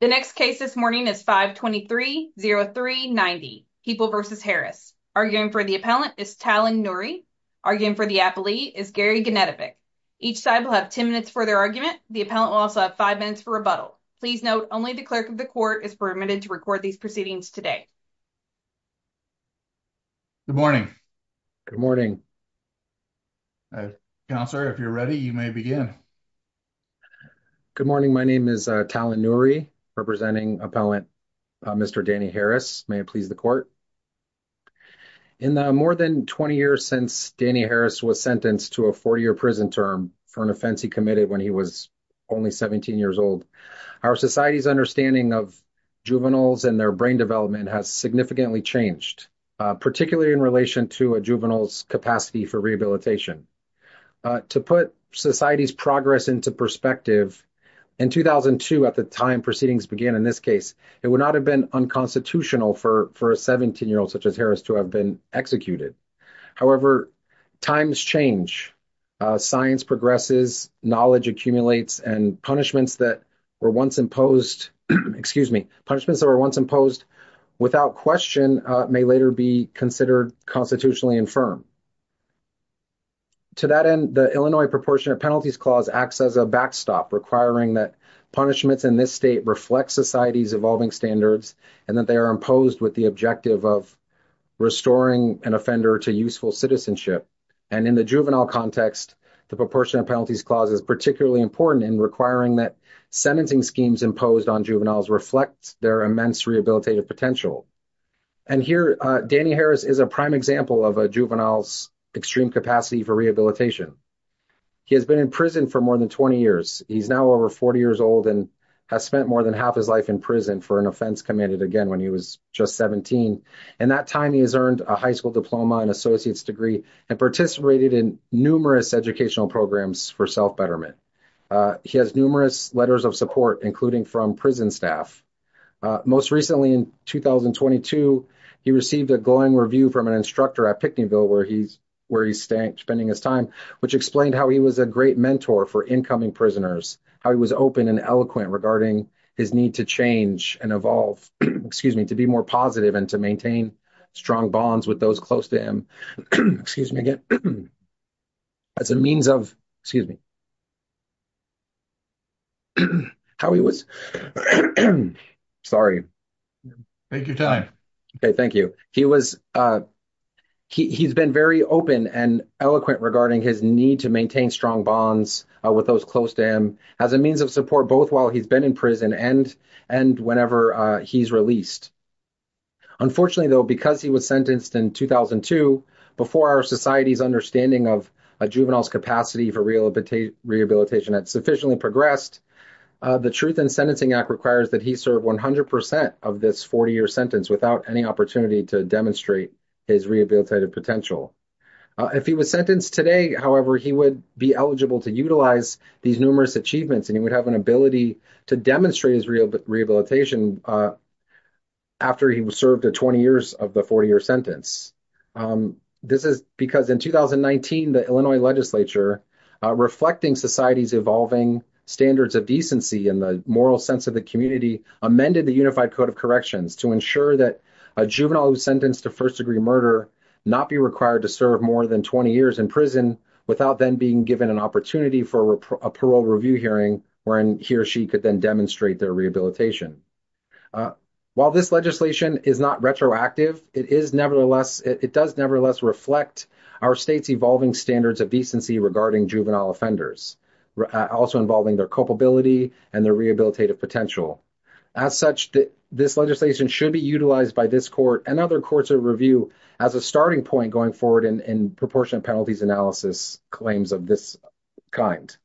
The next case this morning is 523-0390, People v. Harris. Arguing for the appellant is Talon Nuri. Arguing for the appellee is Gary Genetovic. Each side will have 10 minutes for their argument. The appellant will also have 5 minutes for rebuttal. Please note, only the clerk of the court is permitted to record these proceedings today. Good morning. Good morning. Counselor, if you're ready, you may begin. Good morning. My name is Talon Nuri. Representing appellant Mr. Danny Harris, may it please the court. In the more than 20 years since Danny Harris was sentenced to a 40-year prison term for an offense he committed when he was only 17 years old, our society's understanding of juveniles and their brain development has significantly changed, particularly in relation to a juvenile's capacity for rehabilitation. To put society's progress into perspective, in 2002, at the time proceedings began in this case, it would not have been unconstitutional for a 17-year-old such as Harris to have been executed. However, times change. Science progresses, knowledge accumulates, and punishments that were once imposed without question may later be considered constitutionally infirm. To that end, the Illinois Proportionate Penalties Clause acts as a backstop, requiring that punishments in this state reflect society's evolving standards and that they are imposed with the objective of restoring an offender to useful citizenship. And in the juvenile context, the Proportionate Penalties Clause is particularly important in requiring that sentencing schemes imposed on juveniles reflect their immense rehabilitative potential. And here, Danny Harris is a prime example of a juvenile's extreme capacity for rehabilitation. He has been in prison for more than 20 years. He's now over 40 years old and has spent more than half his life in prison for an offense committed again when he was just 17. In that time, he has earned a high school diploma, an associate's degree, and participated in numerous educational programs for self-betterment. He has numerous letters of support, including from prison staff. Most recently, in 2022, he received a glowing review from an instructor at Pickneyville where he's spending his time, which explained how he was a great mentor for incoming prisoners, how he was open and eloquent regarding his need to change and evolve, excuse me, to be more positive and to maintain strong bonds with those close to him, excuse me again, as a means of, excuse me, how he was, sorry. Take your time. Okay, thank you. He was, he's been very open and eloquent regarding his need to maintain strong bonds with those close to him as a means of support, both while he's been in prison and whenever he's released. Unfortunately though, because he was sentenced in 2002, before our society's understanding of a juvenile's capacity for rehabilitation had sufficiently progressed, the Truth in Sentencing Act requires that he serve 100% of this 40-year sentence without any opportunity to demonstrate his rehabilitative potential. If he was sentenced today, however, he would be eligible to utilize these numerous achievements and he would have an ability to demonstrate his rehabilitation after he was sentenced. This is because in 2019, the Illinois legislature, reflecting society's evolving standards of decency and the moral sense of the community, amended the Unified Code of Corrections to ensure that a juvenile who's sentenced to first-degree murder not be required to serve more than 20 years in prison without then being given an opportunity for a parole review hearing wherein he or she could then demonstrate their rehabilitation. While this legislation is not retroactive, it does nevertheless reflect our state's evolving standards of decency regarding juvenile offenders, also involving their culpability and their rehabilitative potential. As such, this legislation should be utilized by this court and other courts of review as a starting point going forward in proportionate penalties analysis claims of this kind.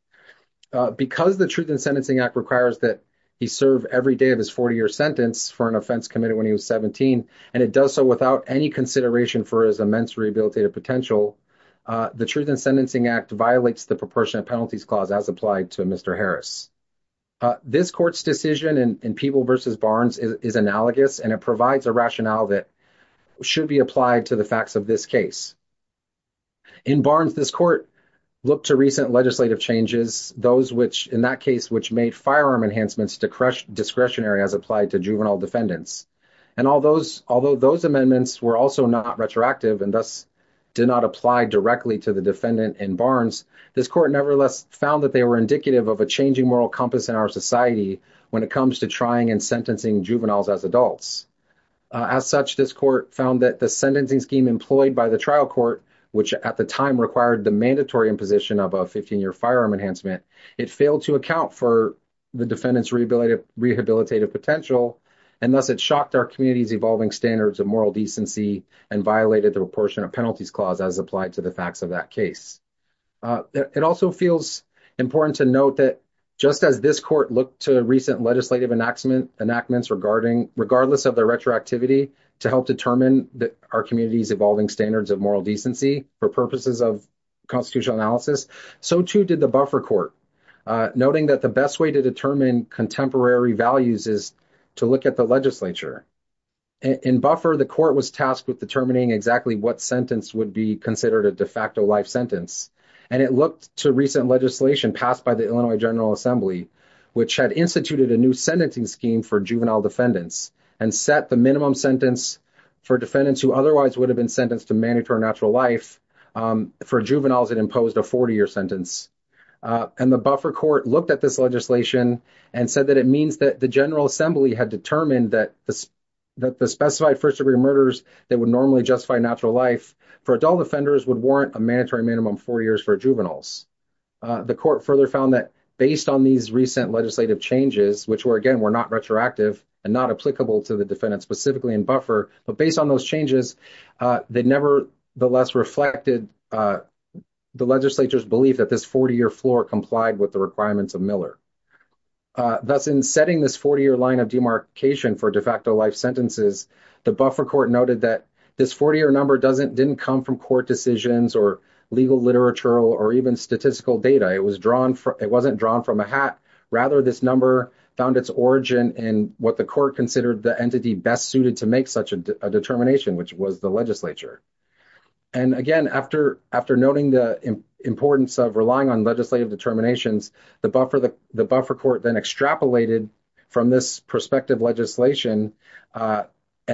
Because the Truth in Sentencing Act requires that he serve every day of his 40-year sentence for an and it does so without any consideration for his immense rehabilitative potential, the Truth in Sentencing Act violates the proportionate penalties clause as applied to Mr. Harris. This court's decision in Peeble v. Barnes is analogous and it provides a rationale that should be applied to the facts of this case. In Barnes, this court looked to recent legislative changes, those which, in that case, which made firearm enhancements discretionary as applied to juvenile defendants. And although those amendments were also not retroactive and thus did not apply directly to the defendant in Barnes, this court nevertheless found that they were indicative of a changing moral compass in our society when it comes to trying and sentencing juveniles as adults. As such, this court found that the sentencing scheme employed by the trial court, which at the time required the mandatory imposition of a 15-year firearm enhancement, it failed to account for the defendant's rehabilitative potential and thus it shocked our community's evolving standards of moral decency and violated the proportionate penalties clause as applied to the facts of that case. It also feels important to note that just as this court looked to recent legislative enactments regardless of the retroactivity to help determine that our community's evolving standards of moral decency for purposes of constitutional analysis, so too did the buffer court, noting that the best way to determine contemporary values is to look at the legislature. In buffer, the court was tasked with determining exactly what sentence would be considered a de facto life sentence. And it looked to recent legislation passed by the Illinois General Assembly, which had instituted a new sentencing scheme for juvenile defendants and set the minimum sentence for defendants who otherwise would have been sentenced to natural life. For juveniles, it imposed a 40-year sentence. And the buffer court looked at this legislation and said that it means that the General Assembly had determined that the specified first-degree murders that would normally justify natural life for adult offenders would warrant a mandatory minimum four years for juveniles. The court further found that based on these recent legislative changes, which were, again, were not retroactive and not applicable to the less reflected the legislature's belief that this 40-year floor complied with the requirements of Miller. Thus, in setting this 40-year line of demarcation for de facto life sentences, the buffer court noted that this 40-year number didn't come from court decisions or legal literature or even statistical data. It wasn't drawn from a hat. Rather, this number found its origin in what the court considered the entity best suited to make such a determination, which was the legislature. And again, after noting the importance of relying on legislative determinations, the buffer court then extrapolated from this prospective legislation and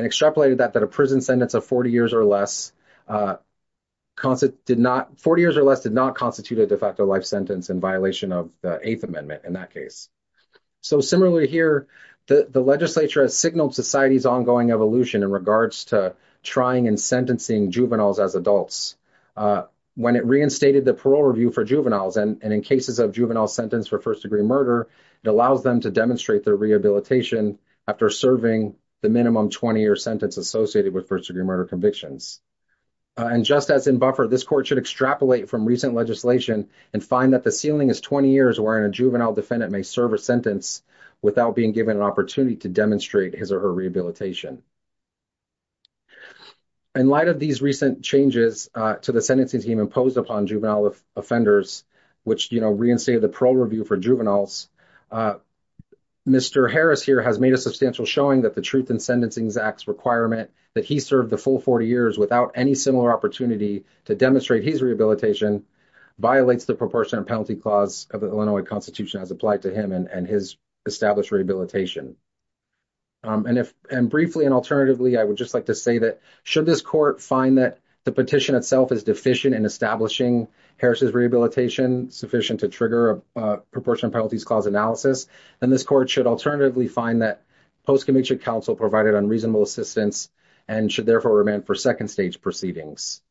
extrapolated that a prison sentence of 40 years or less did not constitute a de facto life sentence in violation of the Eighth Amendment in that case. So, similarly here, the legislature signaled society's ongoing evolution in regards to trying and sentencing juveniles as adults. When it reinstated the parole review for juveniles and in cases of juvenile sentence for first-degree murder, it allows them to demonstrate their rehabilitation after serving the minimum 20-year sentence associated with first-degree murder convictions. And just as in buffer, this court should extrapolate from recent legislation and find that the ceiling is 20 years wherein a juvenile defendant may serve a sentence without being given an opportunity to demonstrate his or her rehabilitation. In light of these recent changes to the sentencing team imposed upon juvenile offenders, which, you know, reinstated the parole review for juveniles, Mr. Harris here has made a substantial showing that the Truth in Sentencings Act's requirement that he served the full 40 years without any similar opportunity to demonstrate his rehabilitation violates the Proportion and Penalty Clause of the Illinois Constitution as applied to him and his established rehabilitation. And briefly and alternatively, I would just like to say that should this court find that the petition itself is deficient in establishing Harris's rehabilitation sufficient to trigger a Proportion and Penalties Clause analysis, then this court should alternatively find that post-commissioned counsel provided unreasonable assistance and should therefore remand for second-stage proceedings.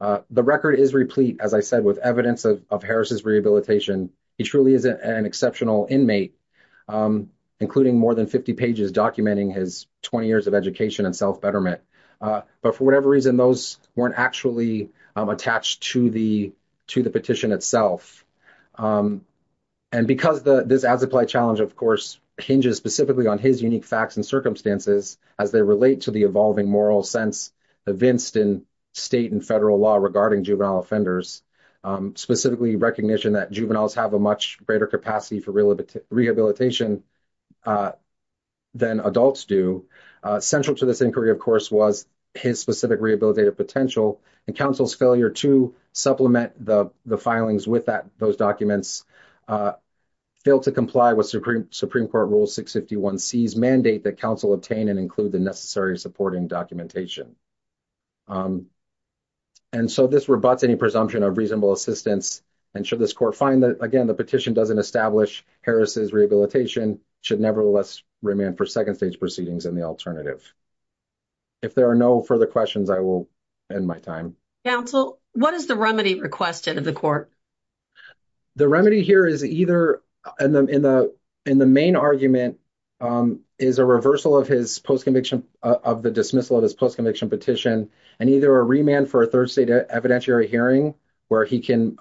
The record is replete, as I said, with evidence of Harris's rehabilitation. He truly is an exceptional inmate, including more than 50 pages documenting his 20 years of education and self-betterment. But for whatever reason, those weren't actually attached to the petition itself. And because this as-applied challenge, of course, hinges specifically on his unique facts and circumstances as they relate to the evolving moral sense evinced in state and federal law regarding juvenile offenders, specifically recognition that juveniles have a much greater capacity for rehabilitation than adults do. Central to this inquiry, of course, was his specific rehabilitative potential and counsel's failure to supplement the filings with those documents, failed to comply with Supreme Court Rule 651C's mandate that counsel obtain and include the necessary supporting documentation. And so this rebuts any presumption of reasonable assistance and should this court find that, again, the petition doesn't establish Harris's rehabilitation, should nevertheless remand for second-stage proceedings in the alternative. If there are no further questions, I will end my time. Counsel, what is the remedy requested of the court? The remedy here is either, in the main argument, is a reversal of his post-conviction, of the dismissal of his post-conviction petition, and either a remand for a third-stage evidentiary hearing where he can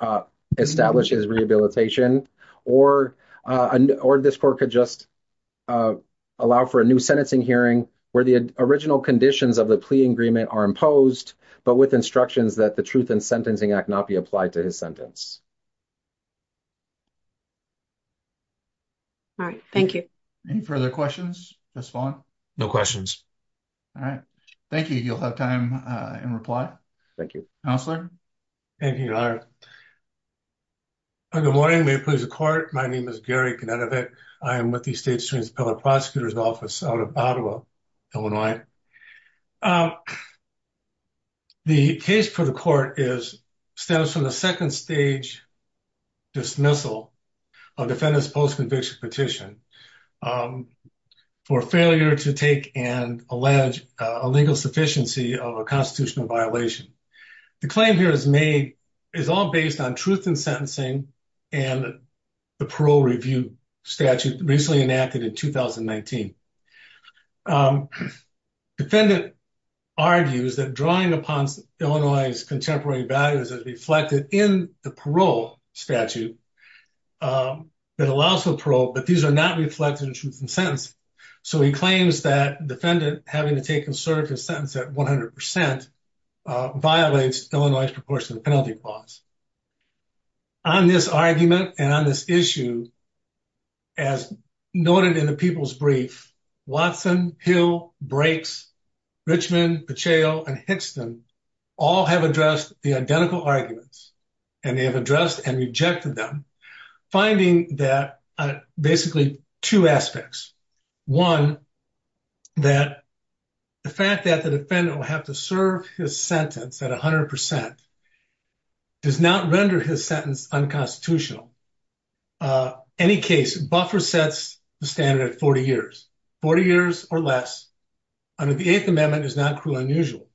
establish his rehabilitation, or this court could just allow for a new sentencing hearing where the original conditions of the plea agreement are but with instructions that the Truth in Sentencing Act not be applied to his sentence. All right. Thank you. Any further questions, Ms. Vaughn? No questions. All right. Thank you. You'll have time in reply. Thank you. Counselor? Thank you, Your Honor. Good morning. May it please the Court. My name is Gary Konedovic. I am with the State's Students and Public Prosecutors Office out of Ottawa, Illinois. The case for the court stems from the second-stage dismissal of the defendant's post-conviction petition for failure to take and allege a legal sufficiency of a constitutional violation. The claim here is all based on truth in sentencing and the parole review statute recently enacted in 2019. Defendant argues that drawing upon Illinois' contemporary values as reflected in the parole statute that allows for parole, but these are not reflected in truth in sentencing, so he claims that defendant having to take and serve his sentence at 100% violates Illinois' proportionate penalty clause. On this argument and on this issue, as noted in the people's brief, Watson, Hill, Brakes, Richmond, Pacheco, and Hickston all have addressed the identical arguments, and they have addressed and rejected them, finding that basically two aspects. One, that the fact that defendant will have to serve his sentence at 100% does not render his sentence unconstitutional. Any case, buffer sets the standard at 40 years, 40 years or less, under the 8th Amendment is not cruel and unusual.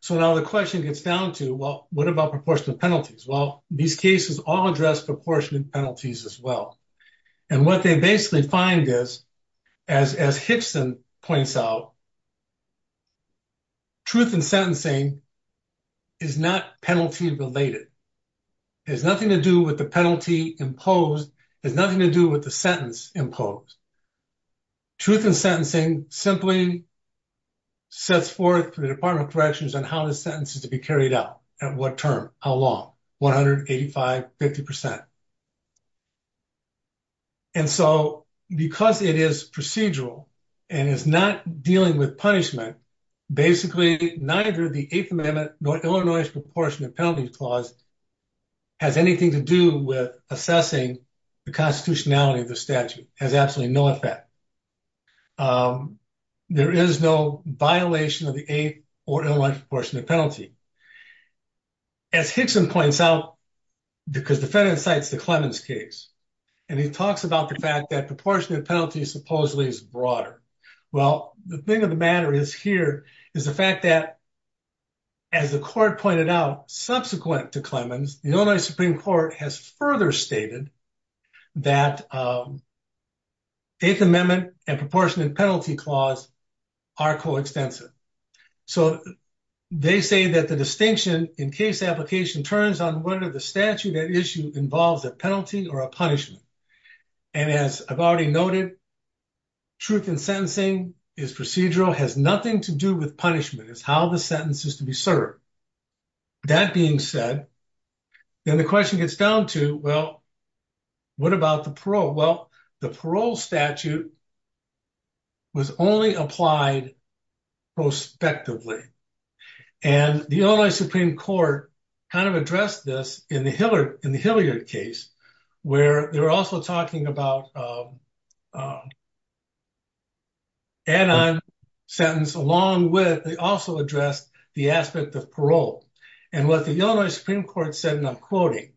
So now the question gets down to, well, what about proportionate penalties? Well, these cases all address proportionate penalties as well, and what they basically find is, as Hickston points out, truth in sentencing is not penalty related. It has nothing to do with the penalty imposed. It has nothing to do with the sentence imposed. Truth in sentencing simply sets forth the Department of Corrections on how the be carried out, at what term, how long, 185, 50%. And so because it is procedural and is not dealing with punishment, basically neither the 8th Amendment nor Illinois' proportionate penalty clause has anything to do with assessing the constitutionality of the statute. It has absolutely no effect. There is no violation of the 8th or Illinois' proportionate penalty. As Hickston points out, because the defendant cites the Clemens case, and he talks about the fact that proportionate penalties supposedly is broader. Well, the thing of the matter is here, is the fact that, as the court pointed out, subsequent to Clemens, the Illinois Supreme Court has further stated that 8th Amendment and proportionate penalty clause are coextensive. So they say that the distinction in case application turns on whether the statute at issue involves a penalty or a punishment. And as I've already noted, truth in sentencing is procedural, has nothing to do with punishment. It's how the sentence is to be served. That being said, then the question gets down to, well, what about the parole? Well, the parole statute was only applied prospectively. And the Illinois Supreme Court kind of addressed this in the Hilliard case, where they were also talking about anon sentence along with, they also addressed the aspect of parole. And what the Illinois Supreme Court said, and I'm quoting,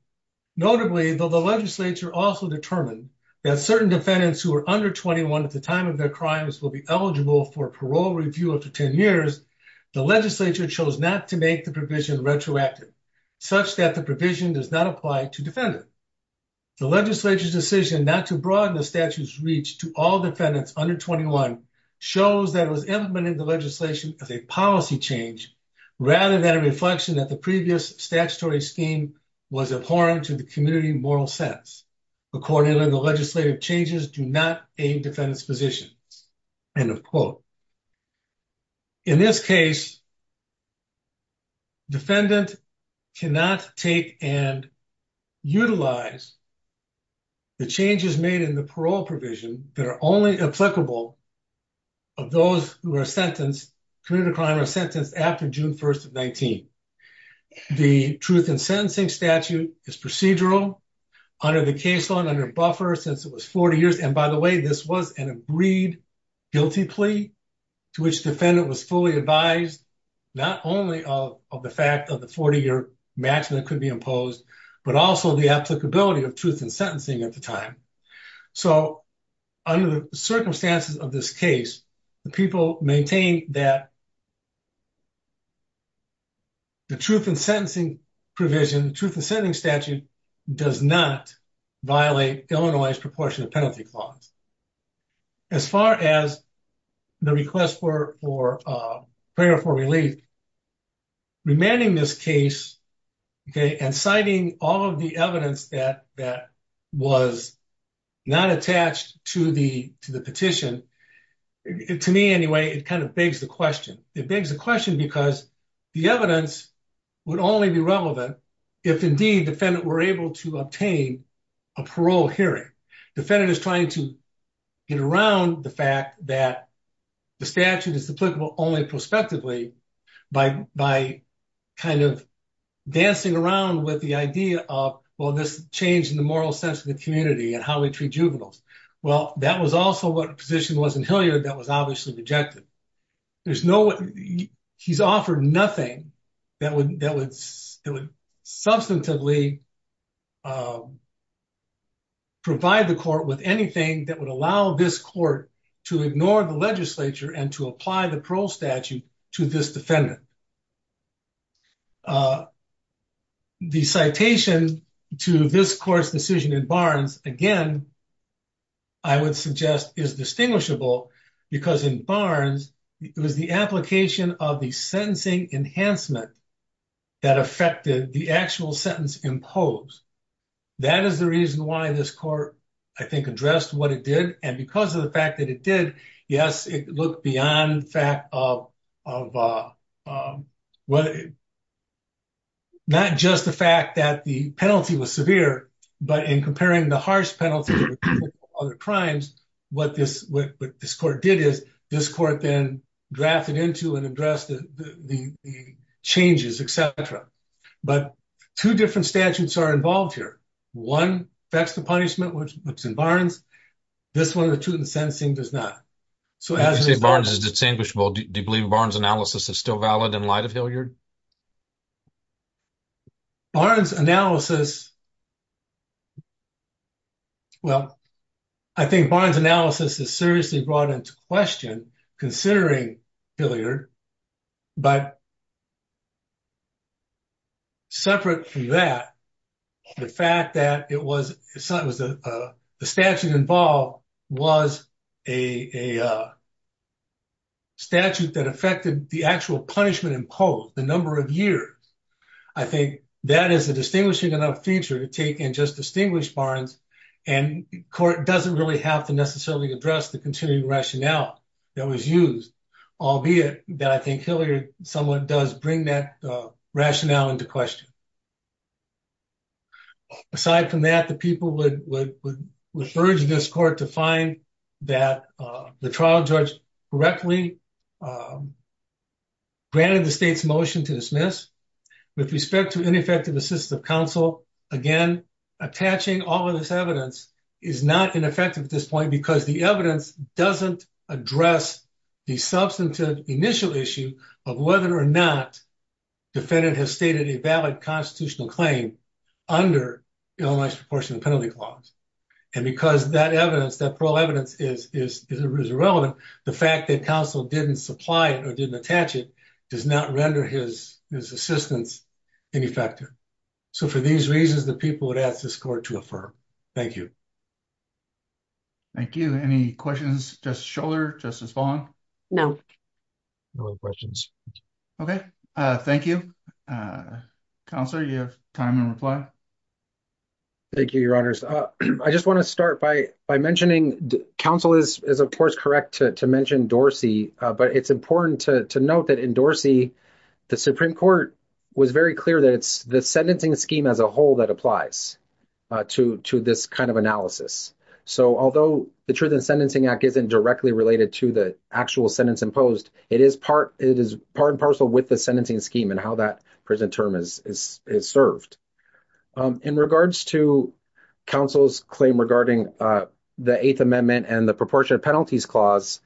notably, though the legislature also determined that certain defendants who are under 21 at the time of their crimes will be eligible for parole review up to 10 years, the legislature chose not to make the provision retroactive, such that the provision does not apply to defendant. The legislature's decision not to broaden the statute's reach to all defendants under 21 shows that it was implementing the legislation as a policy change, rather than a reflection that the previous statutory scheme was abhorrent to the community moral sense. Accordingly, the legislative changes do not aim defendants' positions. End of quote. In this case, defendant cannot take and utilize the changes made in the parole provision that are only applicable of those who are sentenced, committed a crime or sentenced after June 1st of 19. The truth in sentencing statute is procedural under the case law and under buffer since it was 40 years. And by the way, this was an agreed guilty plea to which defendant was fully advised, not only of the fact of the 40 year maximum that could be imposed, but also the applicability of truth in sentencing at the time. So under the circumstances of this case, the people maintain that the truth in sentencing provision, the truth in sentencing statute does not violate Illinois' proportionate penalty clause. As far as the request for prayer for relief, remanding this case, okay, and citing all of the evidence that was not attached to the petition, to me anyway, it kind of begs the question. It begs the question because the evidence would only be relevant if indeed defendant were able to obtain a parole hearing. Defendant is trying to get around the fact that the statute is applicable only prospectively by kind of dancing around with the idea of, well, this change in the moral sense of the community and how we treat juveniles. Well, that was also what position was in Hilliard that was obviously rejected. He's offered nothing that would substantively provide the court with anything that would allow this court to ignore the legislature and to apply the parole statute to this defendant. The citation to this court's decision in Barnes, again, I would suggest is distinguishable because in Barnes, it was the application of the sentencing enhancement that affected the actual sentence imposed. That is the reason why this court, I think, addressed what it did. And because of the fact that it did, yes, it looked beyond the fact of whether, not just the fact that the penalty was severe, but in comparing the harsh penalty to other crimes, what this court did is this court then drafted into and addressed the changes, et cetera. But two different statutes are involved here. One affects the punishment, which is in Barnes. This one, the two in the sentencing, does not. So, as you say, Barnes is distinguishable. Do you believe Barnes' analysis is still valid in light of Hilliard? Barnes' analysis, well, I think Barnes' analysis is seriously brought into question considering Hilliard, but separate from that, the fact that the statute involved was a statute that affected the actual punishment imposed, the number of years. I think that is a distinguishing enough feature to take and just distinguish Barnes, and court doesn't really have to necessarily address the continuing rationale that was used, albeit that I think Hilliard somewhat does bring that rationale into question. Aside from that, the people would urge this court to find that the trial judge correctly granted the state's motion to dismiss. With respect to ineffective assistance of counsel, again, attaching all of this evidence is not ineffective at this point because the evidence doesn't address the substantive initial issue of whether or not defendant has stated a valid constitutional claim under Illinois Proportionate Penalty Clause, and because that evidence, that parole evidence is irrelevant, the fact that counsel didn't supply it or didn't attach it does not render his assistance ineffective. So, for these reasons, the people would ask this court to affirm. Thank you. Thank you. Any questions? Justice Schouler? Justice Fong? No. No questions. Okay. Thank you. Counselor, do you have time to reply? Thank you, Your Honors. I just want to start by mentioning, counsel is, of course, correct to mention Dorsey, but it's important to note that in Dorsey, the Supreme Court was very clear that the sentencing scheme as a whole that applies to this kind of analysis. So, although the Truth in Sentencing Act isn't directly related to the actual sentence imposed, it is part and parcel with the sentencing scheme and how that prison term is served. In regards to counsel's claim regarding the Eighth Amendment and the Proportionate Penalties Clause,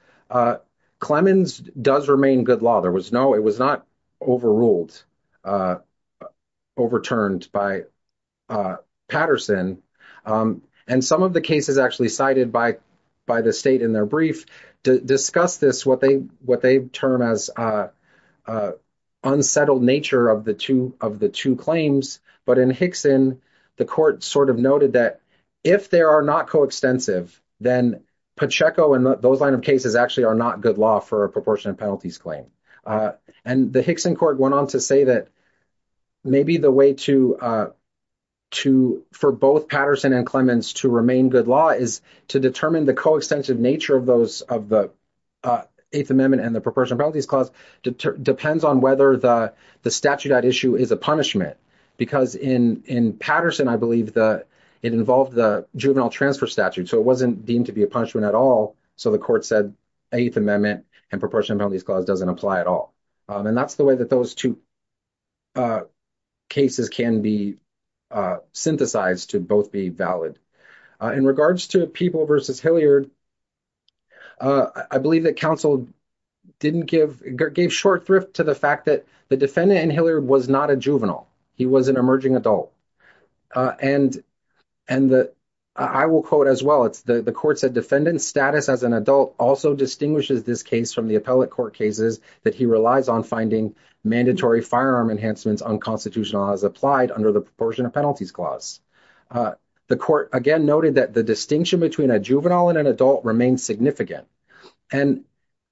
Clemens does remain good law. There was no, it was not overruled, overturned by Patterson. And some of the cases actually cited by the state in their brief discuss this, what they term as unsettled nature of the two claims. But in Hickson, the court sort of noted that if they are not coextensive, then Pacheco and those line of cases actually are not good law for a proportionate penalties claim. And the Hickson court went on to say that maybe the way for both Patterson and Clemens to remain good law is to determine the coextensive nature of the Eighth Amendment and the Proportionate Penalties Clause depends on whether the statute at issue is a punishment. Because in Patterson, I believe it involved the juvenile transfer statute. So, it wasn't deemed to be a punishment at all. So, the court said Eighth Amendment and Proportionate Penalties Clause doesn't apply at all. And that's the way that those two cases can be synthesized to both be valid. In regards to People v. Hilliard, I believe that counsel didn't give, gave short thrift to the fact that the defendant in Hilliard was not a juvenile. He was an emerging adult. And I will quote as well, the court said defendant's status as an adult also distinguishes this case from the appellate court cases that he relies on finding mandatory firearm enhancements unconstitutional as applied under the Proportionate Penalties Clause. The court again noted that the distinction between a juvenile and an adult remains significant. And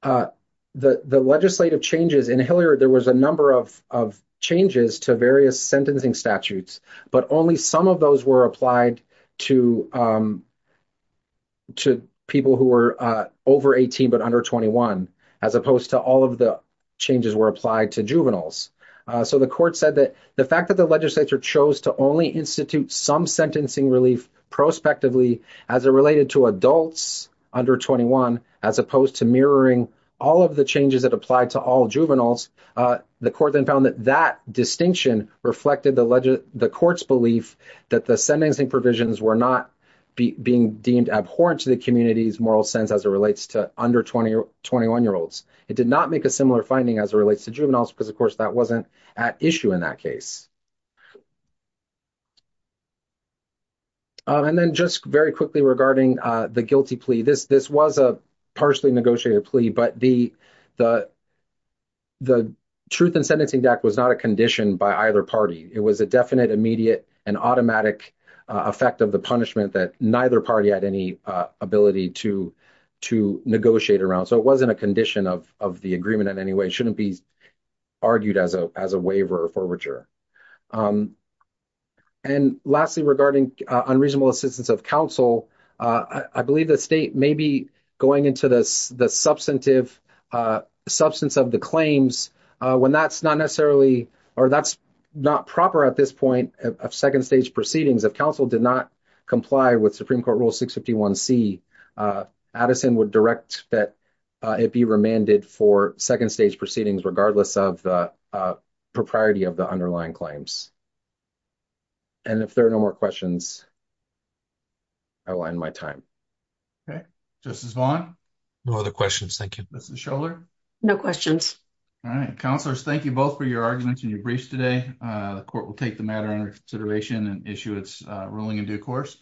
the legislative changes in Hilliard, there was a number of changes to various sentencing statutes, but only some of those were applied to people who were over 18 but under 21, as opposed to all of the changes were applied to juveniles. So, the court said that the fact that the legislature chose to only institute some sentencing relief prospectively as it related to adults under 21, as opposed to mirroring all of the changes that apply to all juveniles, the court then found that that distinction reflected the court's belief that the sentencing provisions were not being deemed abhorrent to the community's moral sense as it relates to under 21-year-olds. It did not make a similar finding as it relates to juveniles because, of course, that wasn't at issue in that case. And then just very quickly regarding the guilty plea. This was a partially negotiated plea, but the Truth in Sentencing Act was not a condition by either party. It was a definite, immediate, and automatic effect of the punishment that neither party had any ability to negotiate around. So, it wasn't a condition of the agreement in any way. It shouldn't be argued as a waiver or forfeiture. And lastly, regarding unreasonable assistance of counsel, I believe the state may be going into the substance of the claims when that's not necessarily or that's not proper at this point of second stage proceedings. If counsel did not comply with Supreme Court Rule 651C, Addison would direct that it be remanded for second stage proceedings regardless of the propriety of the underlying claims. And if there are no more questions, I will end my time. Okay. Justice Vaughn? No other questions. Thank you. Mrs. Schouler? No questions. All right. Counselors, thank you both for your arguments and your briefs today. The court will take the matter under consideration and issue its ruling in due course.